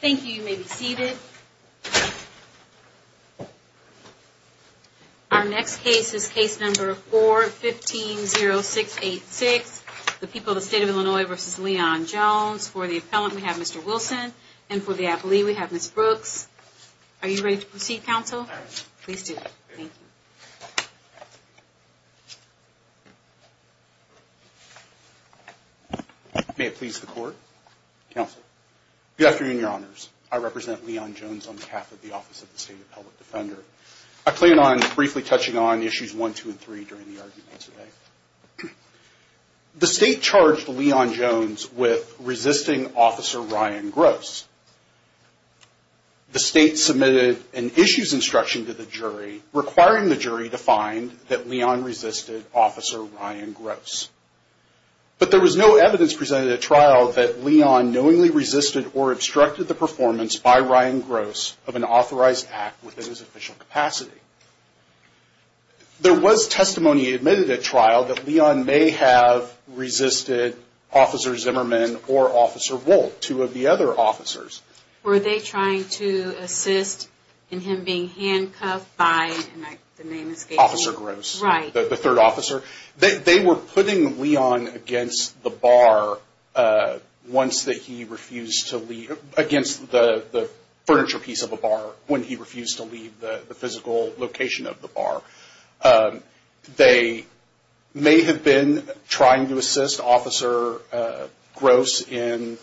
Thank you. You may be seated. Our next case is case number 450686. The people of the state of Illinois v. Leon Jones. For the appellant, we have Mr. Wilson. And for the appellee, we have Ms. Brooks. Are you ready to proceed, counsel? Please do. Thank you. May it please the court. Counsel. Good afternoon, your honors. I represent Leon Jones on behalf of the Office of the State Appellate Defender. I plan on briefly touching on issues 1, 2, and 3 during the argument today. The state charged Leon Jones with resisting Officer Ryan Gross. The state submitted an issues instruction to the jury, requiring the jury to find that Leon resisted Officer Ryan Gross. But there was no evidence presented at trial that Leon knowingly resisted or obstructed the performance by Ryan Gross of an authorized act within his official capacity. There was testimony admitted at trial that Leon may have resisted Officer Zimmerman or Officer Wolt, two of the other officers. Were they trying to assist in him being handcuffed by, and the name escapes me. Officer Gross, the third officer. They were putting Leon against the furniture piece of a bar when he refused to leave the physical location of the bar. They may have been trying to assist Officer Gross in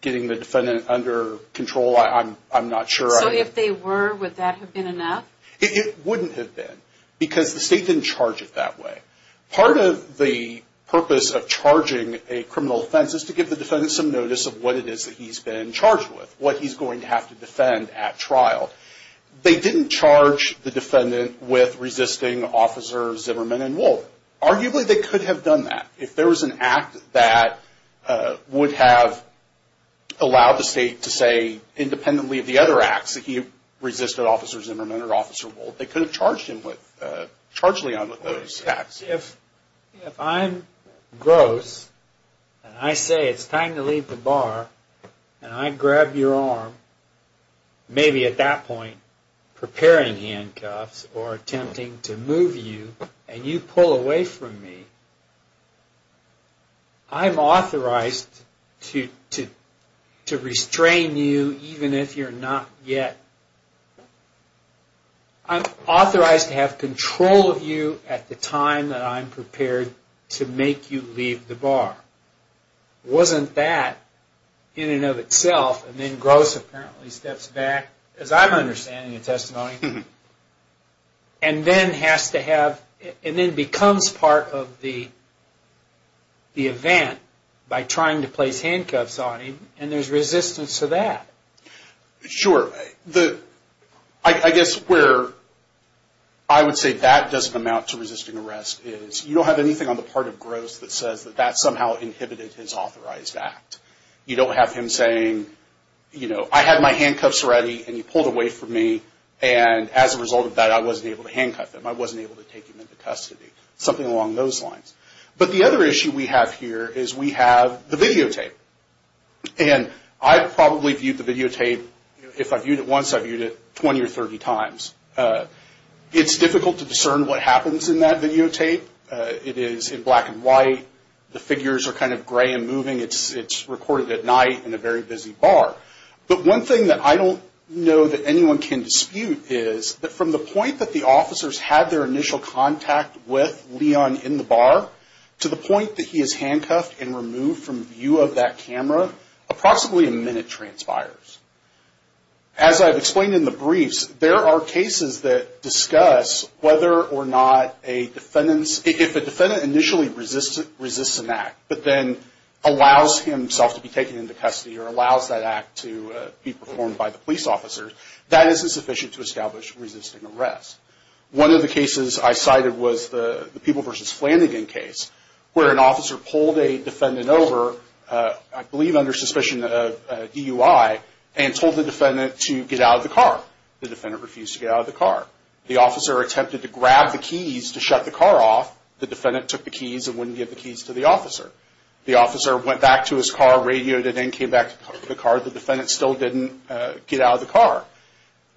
getting the defendant under control. I'm not sure. So if they were, would that have been enough? It wouldn't have been, because the state didn't charge it that way. Part of the purpose of charging a criminal offense is to give the defendant some notice of what it is that he's been charged with, what he's going to have to defend at trial. They didn't charge the defendant with resisting Officers Zimmerman and Wolt. Arguably they could have done that. If there was an act that would have allowed the state to say independently of the other acts that he resisted Officers Zimmerman and Wolt, they could have charged Leon with those acts. If I'm Gross, and I say it's time to leave the bar, and I grab your arm, maybe at that point preparing handcuffs or attempting to move you, and you pull away from me, I'm authorized to restrain you, even if you're not yet. I'm authorized to have control of you at the time that I'm prepared to make you leave the bar. Wasn't that, in and of itself, and then Gross apparently steps back, as I'm understanding the testimony, and then becomes part of the event by trying to place handcuffs on him, and there's resistance to that. Sure. I guess where I would say that doesn't amount to resisting arrest is you don't have anything on the part of Gross that says that that somehow inhibited his authorized act. You don't have him saying, I had my handcuffs ready, and you pulled away from me, and as a result of that I wasn't able to handcuff him. I wasn't able to take him into custody. Something along those lines. But the other issue we have here is we have the videotape. And I've probably viewed the videotape, if I've viewed it once, I've viewed it 20 or 30 times. It's difficult to discern what happens in that videotape. It is in black and white. The figures are kind of gray and moving. It's recorded at night in a very busy bar. But one thing that I don't know that anyone can dispute is that from the point that the officers had their initial contact with Leon in the bar to the point that he is handcuffed and removed from view of that camera, approximately a minute transpires. As I've explained in the briefs, there are cases that discuss whether or not a defendant's, if a defendant initially resists an act, but then allows himself to be taken into custody or allows that act to be performed by the police officers, that isn't sufficient to establish resisting arrest. One of the cases I cited was the People v. Flanagan case, where an officer pulled a defendant over, I believe under suspicion of DUI, and told the defendant to get out of the car. The defendant refused to get out of the car. The officer attempted to grab the keys to shut the car off. The defendant took the keys and wouldn't give the keys to the officer. The officer went back to his car, radioed, and then came back to the car. The defendant still didn't get out of the car.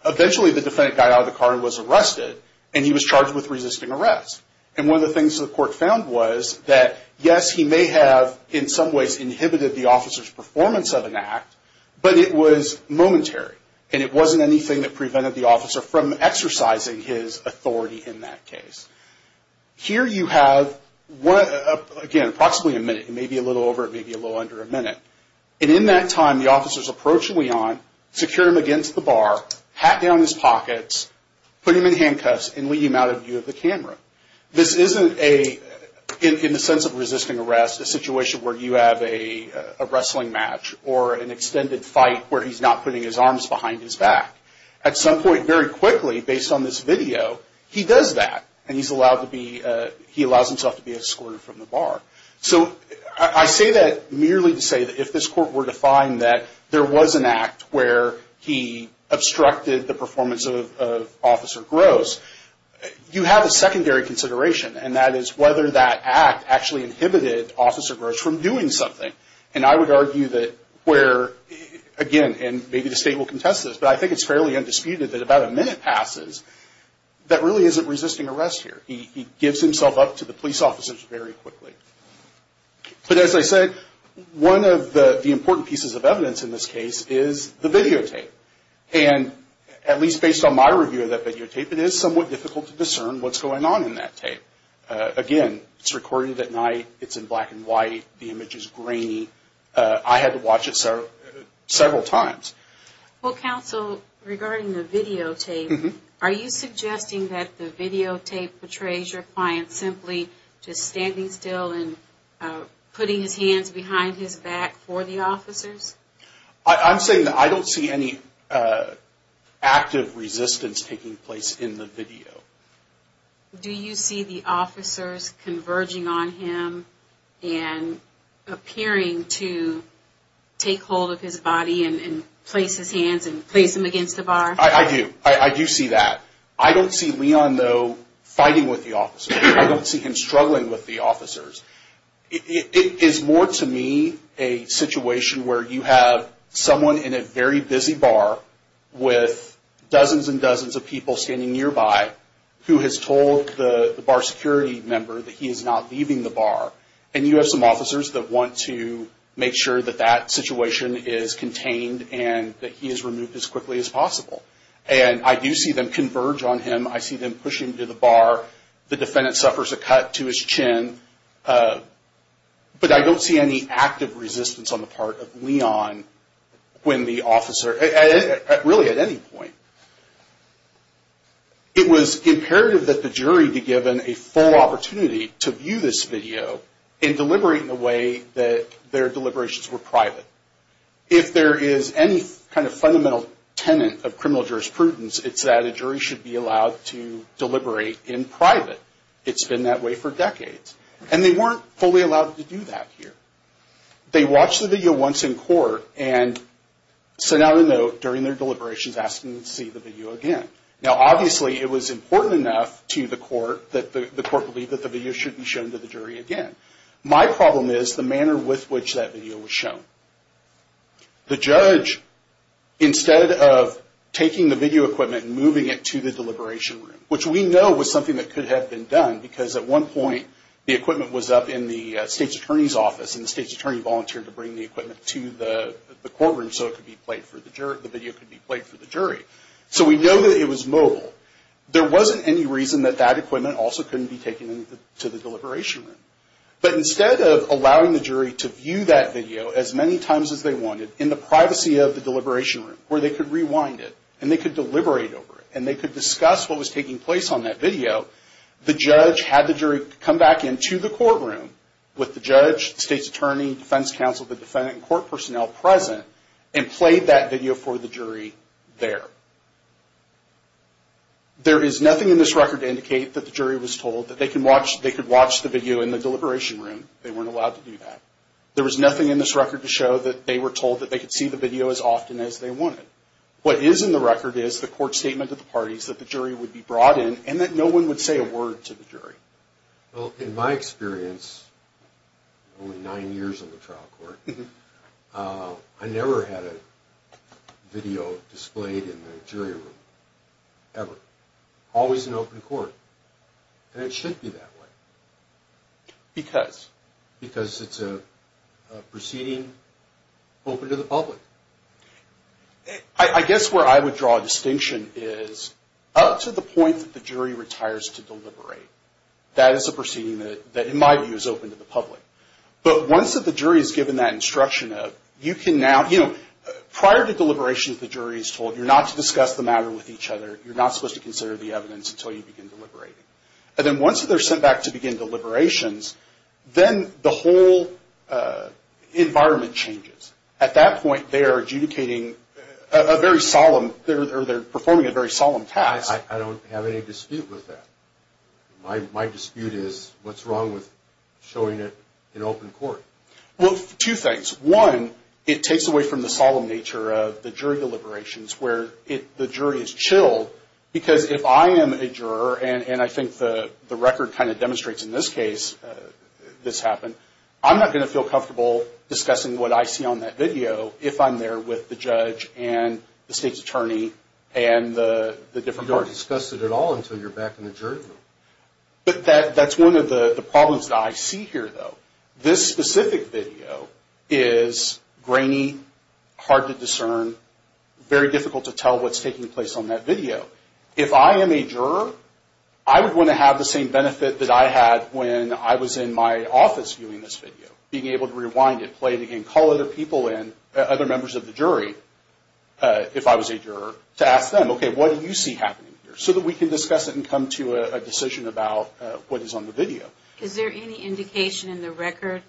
Eventually, the defendant got out of the car and was arrested, and he was charged with resisting arrest. One of the things the court found was that, yes, he may have in some ways inhibited the officer's performance of an act, but it was momentary, and it wasn't anything that prevented the officer from exercising his authority in that case. Here you have, again, approximately a minute. It may be a little over, it may be a little under a minute. And in that time, the officer's approaching Leon, secure him against the bar, hat down his pockets, put him in handcuffs, and lead him out of view of the camera. This isn't, in the sense of resisting arrest, a situation where you have a wrestling match or an extended fight where he's not putting his arms behind his back. At some point, very quickly, based on this video, he does that, and he allows himself to be escorted from the bar. So I say that merely to say that if this court were to find that there was an act where he obstructed the performance of Officer Gross, you have a secondary consideration, and that is whether that act actually inhibited Officer Gross from doing something. And I would argue that where, again, and maybe the State will contest this, but I think it's fairly undisputed that about a minute passes, that really isn't resisting arrest here. He gives himself up to the police officers very quickly. But as I said, one of the important pieces of evidence in this case is the videotape. And at least based on my review of that videotape, it is somewhat difficult to discern what's going on in that tape. Again, it's recorded at night, it's in black and white, the image is grainy. I had to watch it several times. Well, Counsel, regarding the videotape, are you suggesting that the videotape portrays your client simply just standing still and putting his hands behind his back for the officers? I'm saying that I don't see any active resistance taking place in the video. Do you see the officers converging on him and appearing to take hold of his body and place his hands and place him against the bar? I do. I do see that. I don't see Leon, though, fighting with the officers. I don't see him struggling with the officers. It is more to me a situation where you have someone in a very busy bar with dozens and dozens of people standing nearby who has told the bar security member that he is not leaving the bar. And you have some officers that want to make sure that that situation is contained and that he is removed as quickly as possible. And I do see them converge on him. I see them pushing him to the bar. The defendant suffers a cut to his chin. But I don't see any active resistance on the part of Leon when the officer, really at any point. It was imperative that the jury be given a full opportunity to view this video and deliberate in a way that their deliberations were private. If there is any kind of fundamental tenet of criminal jurisprudence, it's that a jury should be allowed to deliberate in private. It's been that way for decades. And they weren't fully allowed to do that here. They watched the video once in court and sent out a note during their deliberations asking to see the video again. Now, obviously, it was important enough to the court that the court believed that the video should be shown to the jury again. My problem is the manner with which that video was shown. The judge, instead of taking the video equipment and moving it to the deliberation room, which we know was something that could have been done because at one point the equipment was up in the state's attorney's office and the state's attorney volunteered to bring the equipment to the courtroom so the video could be played for the jury. So we know that it was mobile. There wasn't any reason that that equipment also couldn't be taken to the deliberation room. But instead of allowing the jury to view that video as many times as they wanted in the privacy of the deliberation room where they could rewind it and they could deliberate over it and they could discuss what was taking place on that video, the judge had the jury come back into the courtroom with the judge, the state's attorney, defense counsel, the defendant, and court personnel present and played that video for the jury there. There is nothing in this record to indicate that the jury was told that they could watch the video in the deliberation room. They weren't allowed to do that. There was nothing in this record to show that they were told that they could see the video as often as they wanted. What is in the record is the court statement of the parties that the jury would be brought in and that no one would say a word to the jury. Well, in my experience, only nine years in the trial court, I never had a video displayed in the jury room. Ever. Always in open court. And it should be that way. Because? Because it's a proceeding open to the public. I guess where I would draw a distinction is up to the point that the jury retires to deliberate, that is a proceeding that in my view is open to the public. But once the jury is given that instruction of you can now, you know, prior to deliberations the jury is told you're not to discuss the matter with each other, you're not supposed to consider the evidence until you begin deliberating. And then once they're sent back to begin deliberations, then the whole environment changes. At that point they are adjudicating a very solemn, they're performing a very solemn task. I don't have any dispute with that. My dispute is what's wrong with showing it in open court? Well, two things. One, it takes away from the solemn nature of the jury deliberations where the jury is chilled because if I am a juror, and I think the record kind of demonstrates in this case this happened, I'm not going to feel comfortable discussing what I see on that video if I'm there with the judge and the state's attorney and the different parties. You don't discuss it at all until you're back in the jury room. But that's one of the problems that I see here though. This specific video is grainy, hard to discern, very difficult to tell what's taking place on that video. If I am a juror, I would want to have the same benefit that I had when I was in my office viewing this video. Being able to rewind it, play it again, call other people in, other members of the jury, if I was a juror, to ask them, okay, what do you see happening here? So that we can discuss it and come to a decision about what is on the video. Is there any indication in the record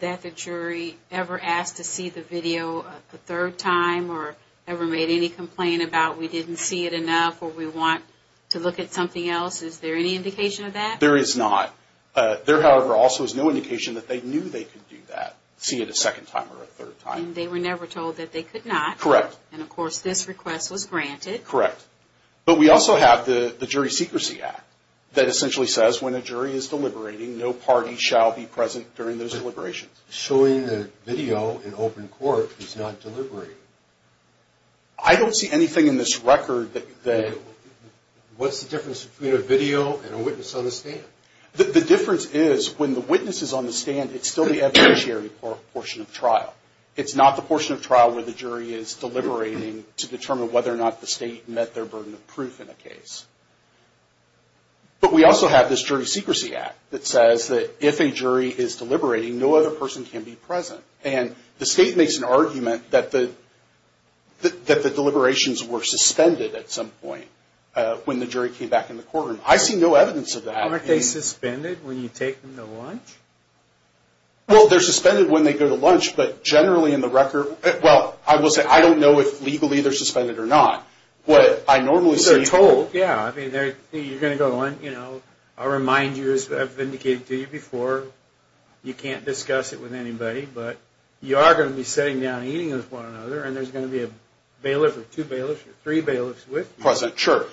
that the jury ever asked to see the video a third time or ever made any complaint about we didn't see it enough or we want to look at something else? Is there any indication of that? There is not. There, however, also is no indication that they knew they could do that, see it a second time or a third time. And they were never told that they could not. Correct. And of course this request was granted. Correct. But we also have the Jury Secrecy Act that essentially says when a jury is deliberating, no party shall be present during those deliberations. Showing the video in open court is not deliberating. I don't see anything in this record that... What's the difference between a video and a witness on the stand? The difference is when the witness is on the stand, it's still the evidentiary portion of trial. It's not the portion of trial where the jury is deliberating to determine whether or not the state met their burden of proof in a case. But we also have this Jury Secrecy Act that says that if a jury is deliberating, no other person can be present. And the state makes an argument that the deliberations were suspended at some point when the jury came back in the courtroom. I see no evidence of that. Aren't they suspended when you take them to lunch? Well, they're suspended when they go to lunch, but generally in the record... Well, I will say I don't know if legally they're suspended or not. What I normally see... Because they're told. Yeah, I mean, you're going to go on, you know, I'll remind you, as I've indicated to you before, you can't discuss it with anybody. But you are going to be sitting down eating with one another, and there's going to be a bailiff or two bailiffs or three bailiffs with you. President, sure.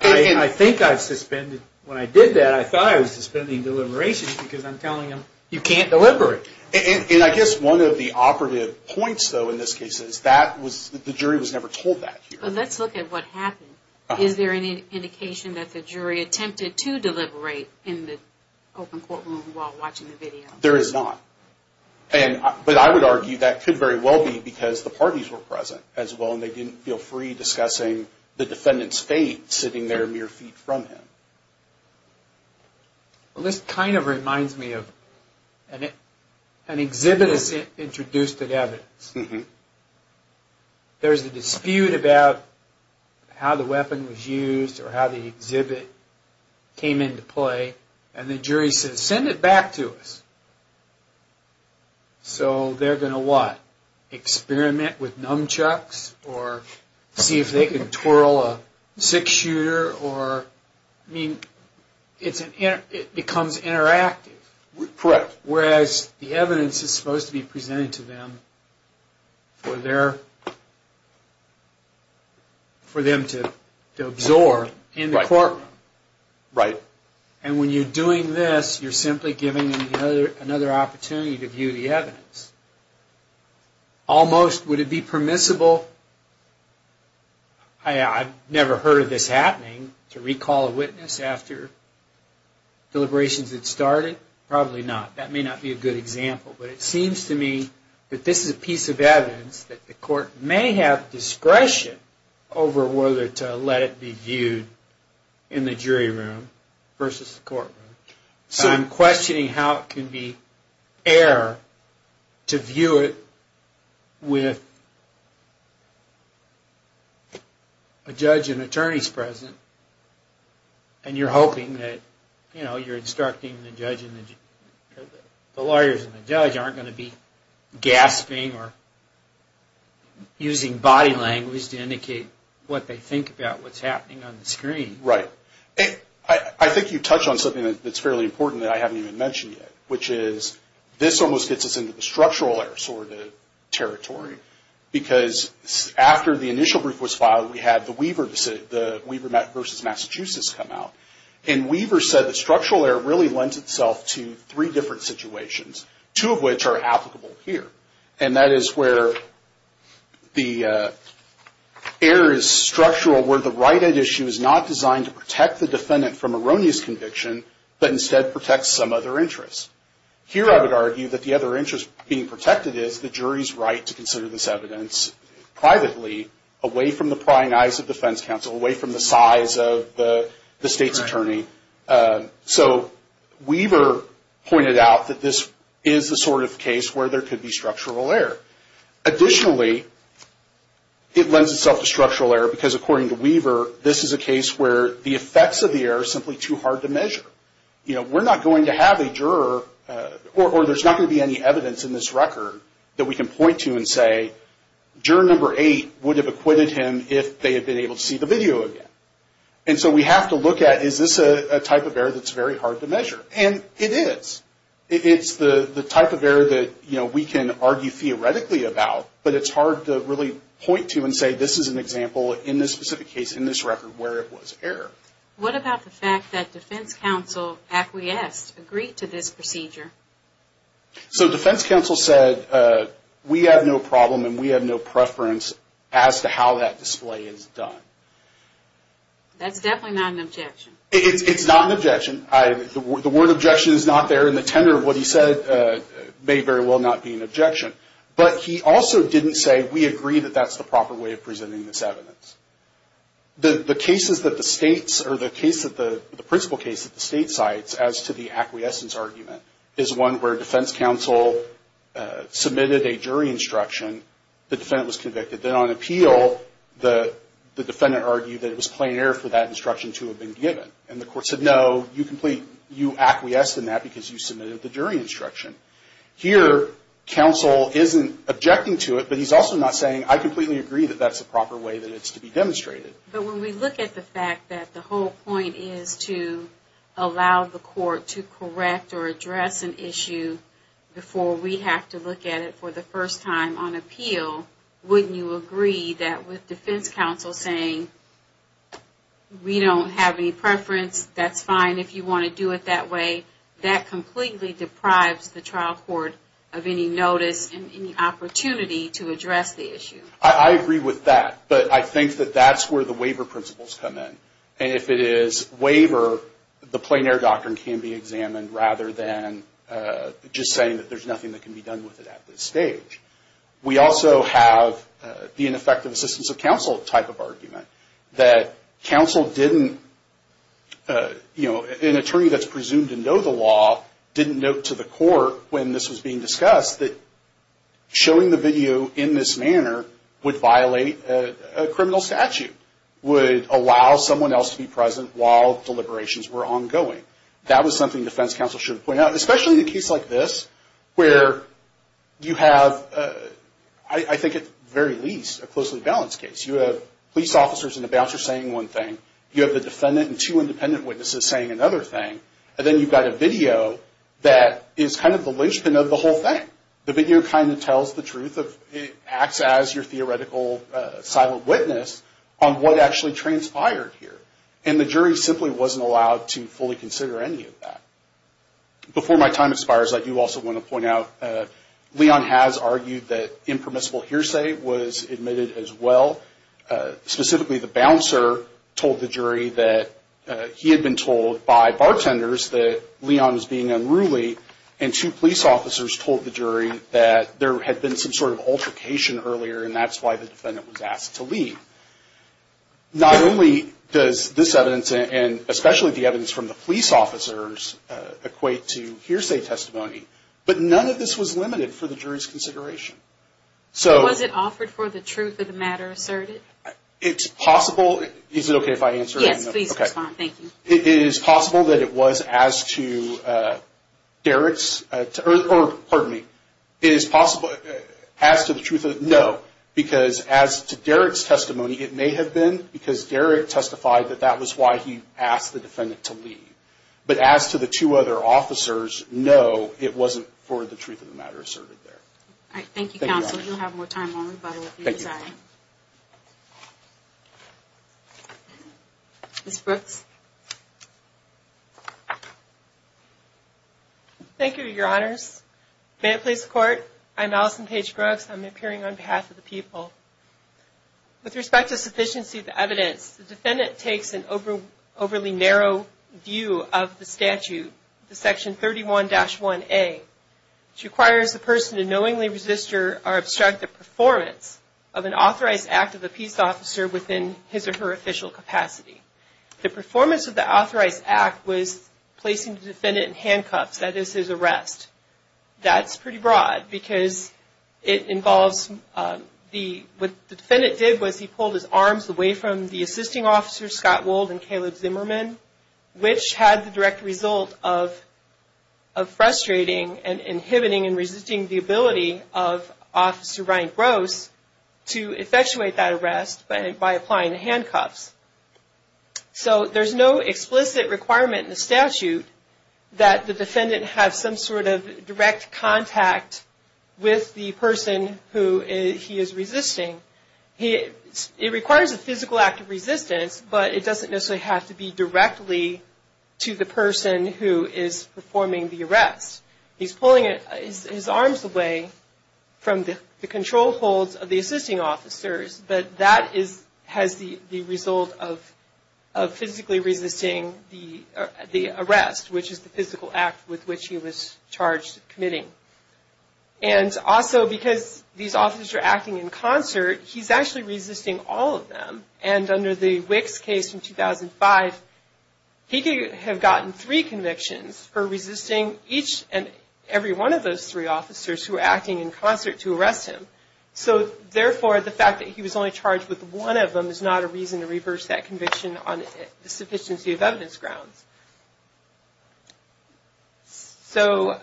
I think I've suspended... When I did that, I thought I was suspending deliberations because I'm telling them, you can't deliberate. And I guess one of the operative points, though, in this case is that the jury was never told that here. Let's look at what happened. Is there any indication that the jury attempted to deliberate in the open courtroom while watching the video? There is not. But I would argue that could very well be because the parties were present as well, and they didn't feel free discussing the defendant's fate sitting there mere feet from him. Well, this kind of reminds me of an exhibit that's introduced at evidence. There's a dispute about how the weapon was used or how the exhibit came into play, and the jury says, send it back to us. So they're going to, what, experiment with nunchucks or see if they can twirl a six-shooter? I mean, it becomes interactive. Correct. Whereas the evidence is supposed to be presented to them for them to absorb in the courtroom. Right. And when you're doing this, you're simply giving them another opportunity to view the evidence. Almost, would it be permissible, I've never heard of this happening, to recall a witness after deliberations had started? Probably not. That may not be a good example. But it seems to me that this is a piece of evidence that the court may have discretion over whether to let it be viewed in the jury room versus the courtroom. So I'm questioning how it can be error to view it with a judge and attorneys present, and you're hoping that, you know, you're instructing the lawyers and the judge aren't going to be gasping or using body language to indicate what they think about what's happening on the screen. Right. I think you touched on something that's fairly important that I haven't even mentioned yet, which is this almost gets us into the structural errors or the territory. Because after the initial brief was filed, we had the Weaver versus Massachusetts come out. And Weaver said the structural error really lends itself to three different situations. Two of which are applicable here. And that is where the error is structural, where the right-hand issue is not designed to protect the defendant from erroneous conviction, but instead protects some other interests. Here I would argue that the other interest being protected is the jury's right to consider this evidence privately, away from the prying eyes of defense counsel, away from the size of the state's attorney. So Weaver pointed out that this is the sort of case where there could be structural error. Additionally, it lends itself to structural error because, according to Weaver, this is a case where the effects of the error are simply too hard to measure. You know, we're not going to have a juror, or there's not going to be any evidence in this record that we can point to and say, juror number eight would have acquitted him if they had been able to see the video again. And so we have to look at, is this a type of error that's very hard to measure? And it is. It's the type of error that, you know, we can argue theoretically about, but it's hard to really point to and say this is an example in this specific case, in this record, where it was error. What about the fact that defense counsel acquiesced, agreed to this procedure? So defense counsel said, we have no problem and we have no preference as to how that display is done. That's definitely not an objection. It's not an objection. The word objection is not there, and the tenor of what he said may very well not be an objection. But he also didn't say, we agree that that's the proper way of presenting this evidence. The cases that the states, or the case that the principle case that the state cites as to the acquiescence argument, is one where defense counsel submitted a jury instruction, the defendant was convicted. Then on appeal, the defendant argued that it was plain error for that instruction to have been given. And the court said, no, you acquiesced in that because you submitted the jury instruction. Here, counsel isn't objecting to it, but he's also not saying, I completely agree that that's the proper way that it's to be demonstrated. But when we look at the fact that the whole point is to allow the court to correct or address an issue before we have to look at it for the first time on appeal, wouldn't you agree that with defense counsel saying, we don't have any preference, that's fine if you want to do it that way, that completely deprives the trial court of any notice and any opportunity to address the issue? I agree with that. But I think that that's where the waiver principles come in. And if it is waiver, the plain error doctrine can be examined, rather than just saying that there's nothing that can be done with it at this stage. That counsel didn't, you know, an attorney that's presumed to know the law didn't note to the court when this was being discussed that showing the video in this manner would violate a criminal statute, would allow someone else to be present while deliberations were ongoing. That was something defense counsel should have pointed out, especially in a case like this where you have, I think at the very least, a closely balanced case. You have police officers and a bouncer saying one thing. You have the defendant and two independent witnesses saying another thing. And then you've got a video that is kind of the linchpin of the whole thing. The video kind of tells the truth. It acts as your theoretical silent witness on what actually transpired here. And the jury simply wasn't allowed to fully consider any of that. Before my time expires, I do also want to point out, Leon has argued that impermissible hearsay was admitted as well. Specifically, the bouncer told the jury that he had been told by bartenders that Leon was being unruly, and two police officers told the jury that there had been some sort of altercation earlier, and that's why the defendant was asked to leave. Not only does this evidence, and especially the evidence from the police officers, equate to hearsay testimony, but none of this was limited for the jury's consideration. So was it offered for the truth of the matter asserted? It's possible. Is it okay if I answer that? Yes, please respond. Thank you. It is possible that it was as to Derek's, or pardon me, as to the truth of, no. Because as to Derek's testimony, it may have been because Derek testified that that was why he asked the defendant to leave. But as to the two other officers, no, it wasn't for the truth of the matter asserted there. All right. Thank you, counsel. You'll have more time on rebuttal if you desire. Thank you. Ms. Brooks. Thank you, Your Honors. May it please the Court, I'm Allison Paige Brooks. I'm appearing on behalf of the people. With respect to sufficiency of the evidence, the defendant takes an overly narrow view of the statute, the section 31-1A, which requires the person to knowingly resist or obstruct the performance of an authorized act of the peace officer within his or her official capacity. The performance of the authorized act was placing the defendant in handcuffs, that is, his arrest. That's pretty broad because it involves the, what the defendant did was he pulled his arms away from the assisting officers, Scott Wold and Caleb Zimmerman, which had the direct result of frustrating and inhibiting and resisting the ability of Officer Ryan Gross to effectuate that arrest by applying the handcuffs. So there's no explicit requirement in the statute that the defendant have some sort of direct contact with the person who he is resisting. It requires a physical act of resistance, but it doesn't necessarily have to be directly to the person who is performing the arrest. He's pulling his arms away from the control holds of the assisting officers, but that has the result of frustrating and inhibiting the ability of Officer Ryan Gross to effectuate that arrest by applying the handcuffs. And also because these officers are acting in concert, he's actually resisting all of them. And under the Wicks case in 2005, he could have gotten three convictions for resisting each and every one of those three officers who were acting in concert to arrest him. So therefore, the fact that he was only charged with one of them is not a reason to reverse that conviction on the sufficiency of evidence grounds. So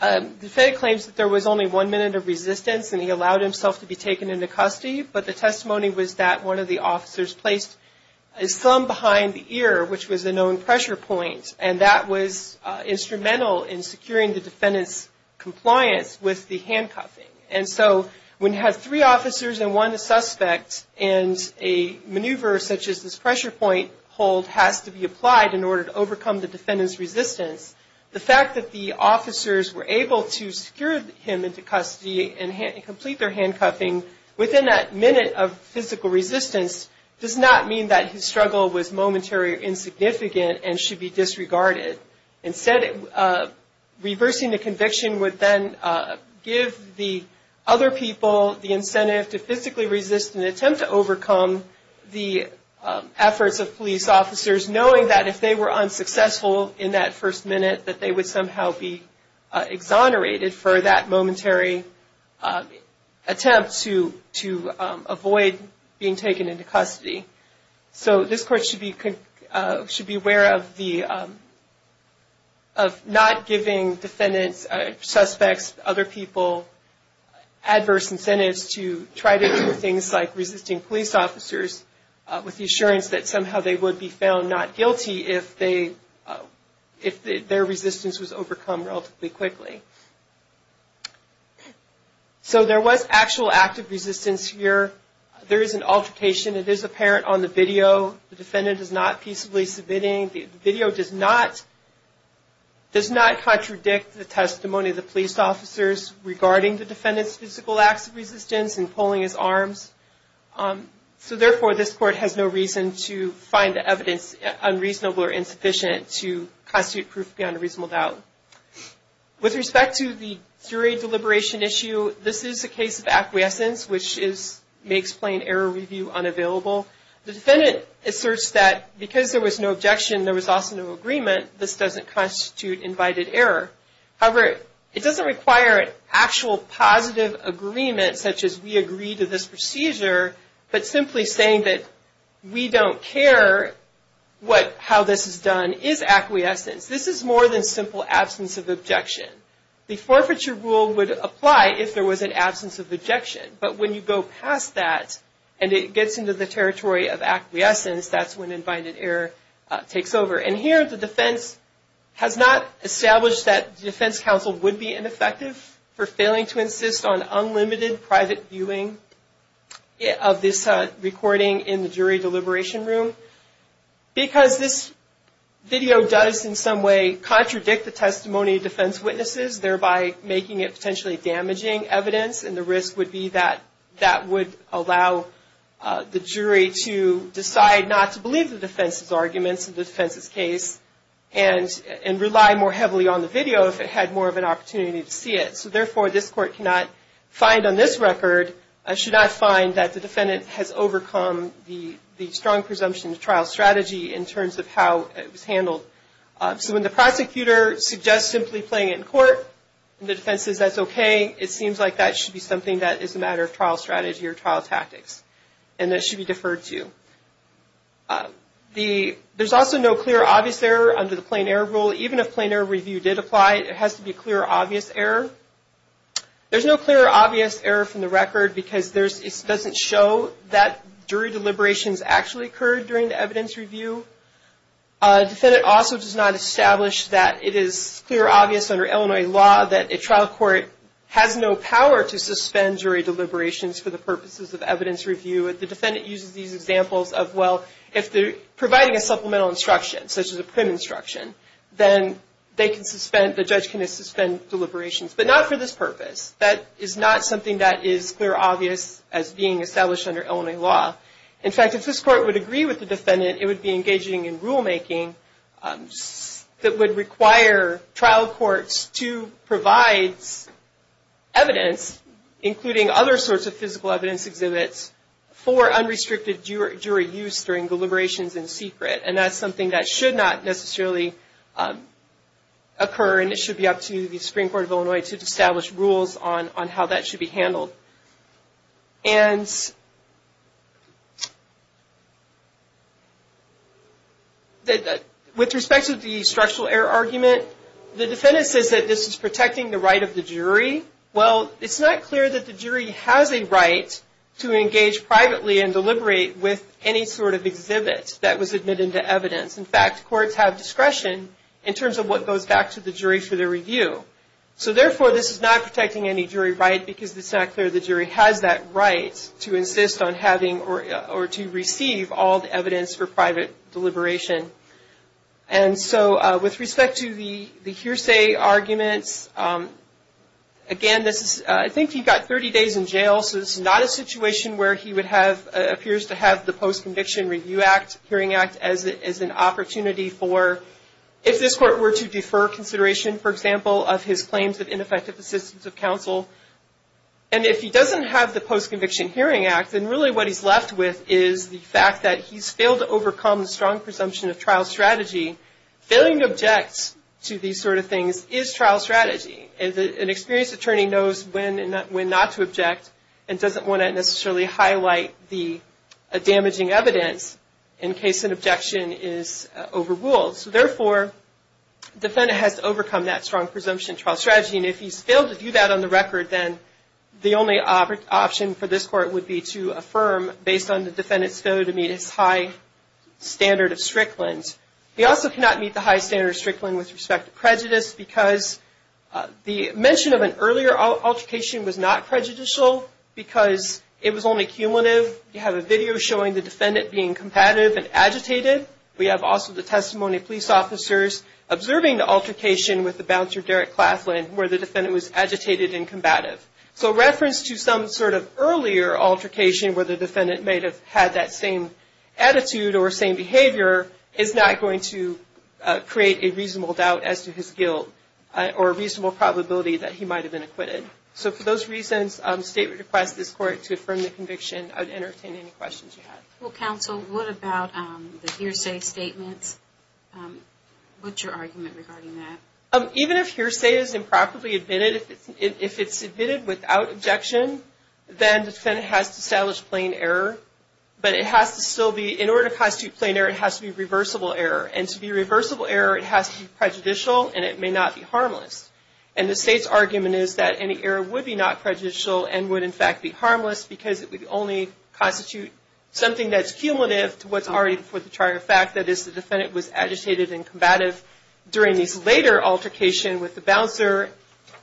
the defendant claims that there was only one minute of resistance and he allowed himself to be taken into custody, but the testimony was that one of the officers placed a thumb behind the ear, which was a known pressure point, and that was instrumental in securing the defendant's compliance with the handcuffing. And so when you have three officers and one suspect and a maneuver such as this pressure point hold has to be applied in order to overcome the defendant's resistance, the fact that the officers were able to secure him into custody and complete their handcuffing within that minute of physical resistance does not mean that his struggle was momentary or insignificant and should be disregarded. Instead, reversing the conviction would then give the other people the incentive to physically resist an attempt to overcome the efforts of police officers, knowing that if they were unsuccessful in that first minute, that they would somehow be exonerated for that momentary attempt to avoid being taken into custody. So this court should be aware of not giving defendants, suspects, other people adverse incentives to try to do things like resisting police officers with the assurance that somehow they would be found not guilty if their resistance was overcome relatively quickly. So there was actual active resistance here. There is an altercation. It is apparent on the video. The defendant is not peaceably submitting. The video does not contradict the testimony of the police officers regarding the defendant's physical acts of resistance in respect to the jury deliberation issue. This is a case of acquiescence, which makes plain error review unavailable. The defendant asserts that because there was no objection, there was also no agreement, this doesn't constitute invited error. However, it doesn't require an actual positive agreement, such as we agree to this procedure, but simply saying that we don't care how this is done is acquiescence. This is more than simple absence of objection. The forfeiture rule would apply if there was an absence of objection, but when you go past that and it gets into the territory of acquiescence, that's when invited error takes over. And here the defense has not established that the defense counsel would be ineffective for failing to insist on unlimited private viewing of this recording in the jury deliberation room. Because this video does in some way contradict the testimony of defense witnesses, thereby making it potentially damaging evidence, and the risk would be that that would allow the jury to decide not to believe the defense's arguments in the defense's case and rely more heavily on the video if it had more of an opportunity to see it. So therefore, this court cannot find on this record, should not find that the defendant has overcome the strong presumption of trial strategy in terms of how it was handled. So when the prosecutor suggests simply playing it in court, and the defense says that's okay, it seems like that should be something that is a matter of trial strategy or trial tactics, and that should be deferred to. There's also no clear obvious error under the plain error rule. Even if plain error review did apply, it has to be clear obvious error. There's no clear obvious error from the record because it doesn't show that jury deliberations actually occurred during the evidence review. The defendant also does not establish that it is clear obvious under Illinois law that a trial court has no power to suspend jury deliberations for the purposes of evidence review. The defendant uses these examples of, well, if they're providing a supplemental instruction, such as a print instruction, then they can suspend, the judge can suspend deliberations, but not for this purpose. That is not something that is clear obvious as being established under Illinois law. In fact, if this court would agree with the defendant, it would be engaging in rulemaking that would require trial courts to provide evidence, including other sorts of physical evidence exhibits, for the purposes of evidence review. For unrestricted jury use during deliberations in secret, and that's something that should not necessarily occur, and it should be up to the Supreme Court of Illinois to establish rules on how that should be handled. With respect to the structural error argument, the defendant says that this is protecting the right of the jury. Well, it's not clear that the jury has a right to engage privately and deliberate with any sort of exhibit that was admitted into evidence. In fact, courts have discretion in terms of what goes back to the jury for their review. So therefore, this is not protecting any jury right because it's not clear the jury has that right to insist on having or to receive all the evidence for private deliberation. And so with respect to the hearsay arguments, again, I think he got 30 days in jail, so this is not a situation where he appears to have the Post-Conviction Review Act, Hearing Act, as an opportunity for, if this court were to defer consideration, for example, of his claims of ineffective assistance of counsel. And if he doesn't have the Post-Conviction Hearing Act, then really what he's left with is the fact that he's failed to do a trial strategy. Failing to object to these sort of things is trial strategy. An experienced attorney knows when not to object and doesn't want to necessarily highlight the damaging evidence in case an objection is overruled. So therefore, the defendant has to overcome that strong presumption trial strategy. And if he's failed to do that on the record, then the only option for this court would be to affirm, based on the defendant's testimony, whether to meet his high standard of strickland. He also cannot meet the high standard of strickland with respect to prejudice because the mention of an earlier altercation was not prejudicial because it was only cumulative. You have a video showing the defendant being competitive and agitated. We have also the testimony of police officers observing the altercation with the bouncer, Derek Claflin, where the defendant was saying the same attitude or same behavior is not going to create a reasonable doubt as to his guilt or a reasonable probability that he might have been acquitted. So for those reasons, the state would request this court to affirm the conviction. I would entertain any questions you have. Well, counsel, what about the hearsay statements? What's your argument regarding that? Even if hearsay is improperly admitted, if it's admitted without objection, then the defendant has to establish plain error. But in order to constitute plain error, it has to be reversible error. And to be reversible error, it has to be prejudicial and it may not be harmless. And the state's argument is that any error would be not prejudicial and would, in fact, be harmless because it would only constitute something that's cumulative to what's already before the charge of fact. That is, the defendant was agitated and combative during this later altercation with the bouncer.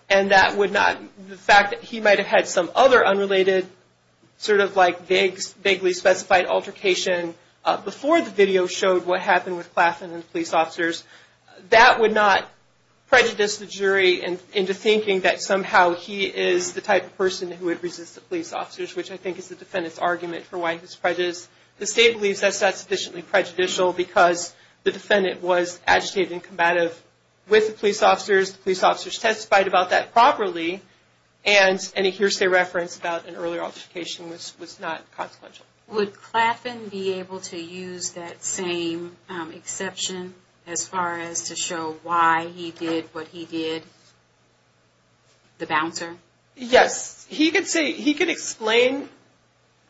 And that would not, the fact that he might have had some other unrelated sort of like vaguely specified altercation before the video showed what happened with Claflin and the police officers, that would not prejudice the jury into thinking that somehow he is the type of person who would resist the police officers, which I think is the defendant's argument for why he's prejudiced. The state believes that's sufficiently prejudicial because the defendant was agitated and combative with the police officers, the police officers testified about that properly. And any hearsay reference about an earlier altercation was not consequential. Would Claflin be able to use that same exception as far as to show why he did what he did, the bouncer? Yes. He could say, he could explain,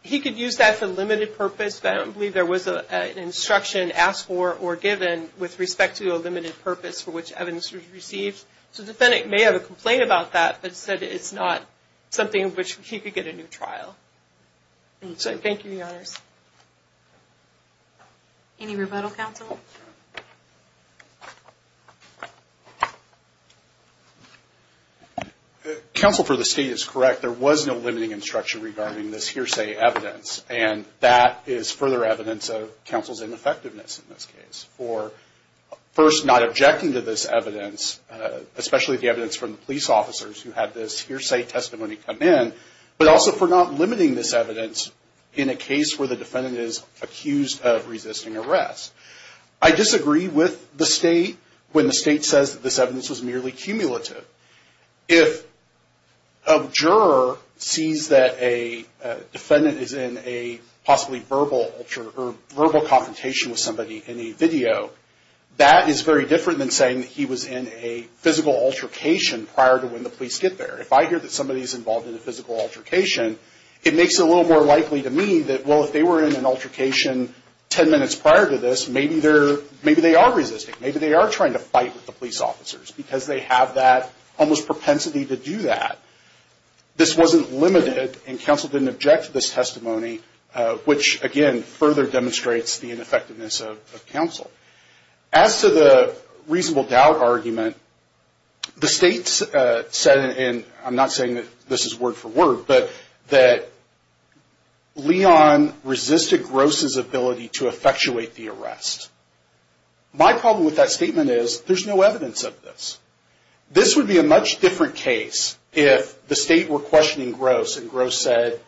he could use that for limited purpose. I don't believe there was an instruction asked for or given with respect to a limited purpose for which evidence was received. So the defendant may have a complaint about that, but said it's not something in which he could get a new trial. So thank you, Your Honors. Counsel for the state is correct. It's further evidence of counsel's ineffectiveness in this case for first not objecting to this evidence, especially the evidence from the police officers who had this hearsay testimony come in, but also for not limiting this evidence in a case where the defendant is accused of resisting arrest. I disagree with the state when the state says that this evidence was merely cumulative. If a juror sees that a defendant is in a possibly verbal altercation, or verbal confrontation with somebody in a video, that is very different than saying that he was in a physical altercation prior to when the police get there. If I hear that somebody is involved in a physical altercation, it makes it a little more likely to me that, well, if they were in an altercation ten minutes prior to this, maybe they are resisting. Maybe they are trying to fight with the police officers because they have that almost propensity to do that. This wasn't limited, and counsel didn't object to this testimony, which, again, further demonstrates the ineffectiveness of counsel. As to the reasonable doubt argument, the state said, and I'm not saying that this is word for word, but that Leon resisted Gross's ability to effectuate the arrest. My problem with that statement is there's no evidence of this. This would be a much different case if the state were questioning Gross, and Gross said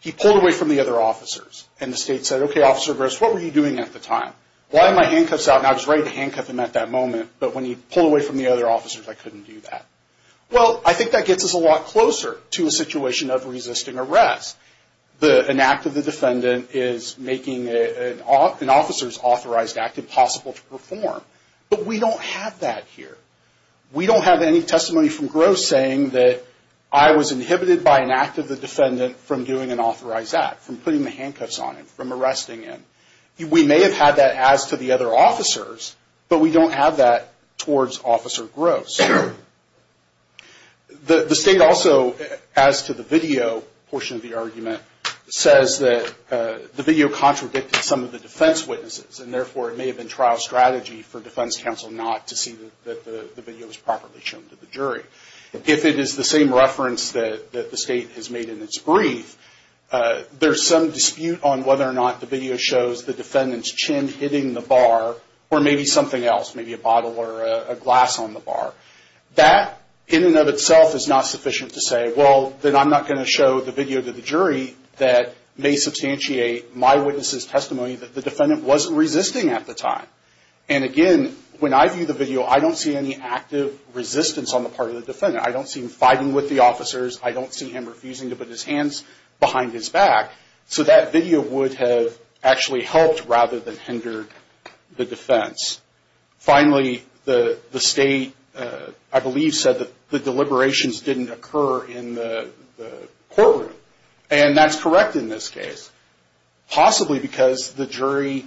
he pulled away from the other officers, and the state said, okay, Officer Gross, what were you doing at the time? Well, I had my handcuffs out, and I was ready to handcuff him at that moment, but when he pulled away from the other officers, I couldn't do that. Well, I think that gets us a lot closer to a situation of resisting arrest. An act of the defendant is making an officer's authorized act impossible to perform, but we don't have that here. We don't have any testimony from Gross saying that I was inhibited by an act of the defendant from doing an authorized act, from putting the handcuffs on him, from arresting him. We may have had that as to the other officers, but we don't have that towards Officer Gross. The state also, as to the video portion of the argument, says that the video contradicted some of the defense witnesses, and therefore it may have been trial strategy for defense counsel not to see that the video was properly shown to the jury. If it is the same reference that the state has made in its brief, there's some dispute on whether or not the video shows the defendant's chin hitting the bar, or maybe something else, maybe a bottle or a glass on the bar. That in and of itself is not sufficient to say, well, then I'm not going to show the video to the jury that may substantiate my witness's testimony that the defendant wasn't resisting at the time. And again, when I view the video, I don't see any active resistance on the part of the defendant. I don't see him fighting with the officers. I don't see him refusing to put his hands behind his back. So that video would have actually helped rather than hindered the defense. Finally, the state, I believe, said that the deliberations didn't occur in the courtroom. And that's correct in this case, possibly because the jury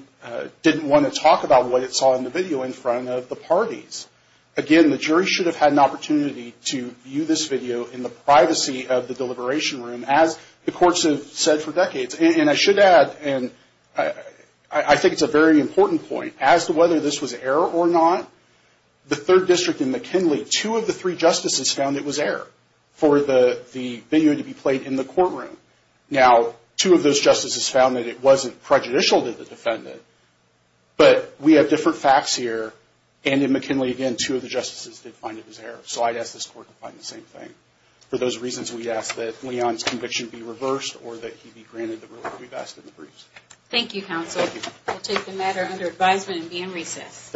didn't want to talk about what it saw in the video in front of the parties. Again, the jury should have had an opportunity to view this video in the privacy of the deliberation room, as the courts have said for decades. And I should add, and I think it's a very important point, as to whether this was error or not, the third district in McKinley, two of the three justices found it was error for the video to be played in the courtroom. Now, two of those justices found that it wasn't prejudicial to the defendant, but we have different facts here, and in McKinley, again, two of the justices did find it was error. So I'd ask this court to find the same thing. For those reasons, we ask that Leon's conviction be reversed, or that he be granted the release we've asked in the briefs. Thank you, counsel. We'll take the matter under advisement and be in recess.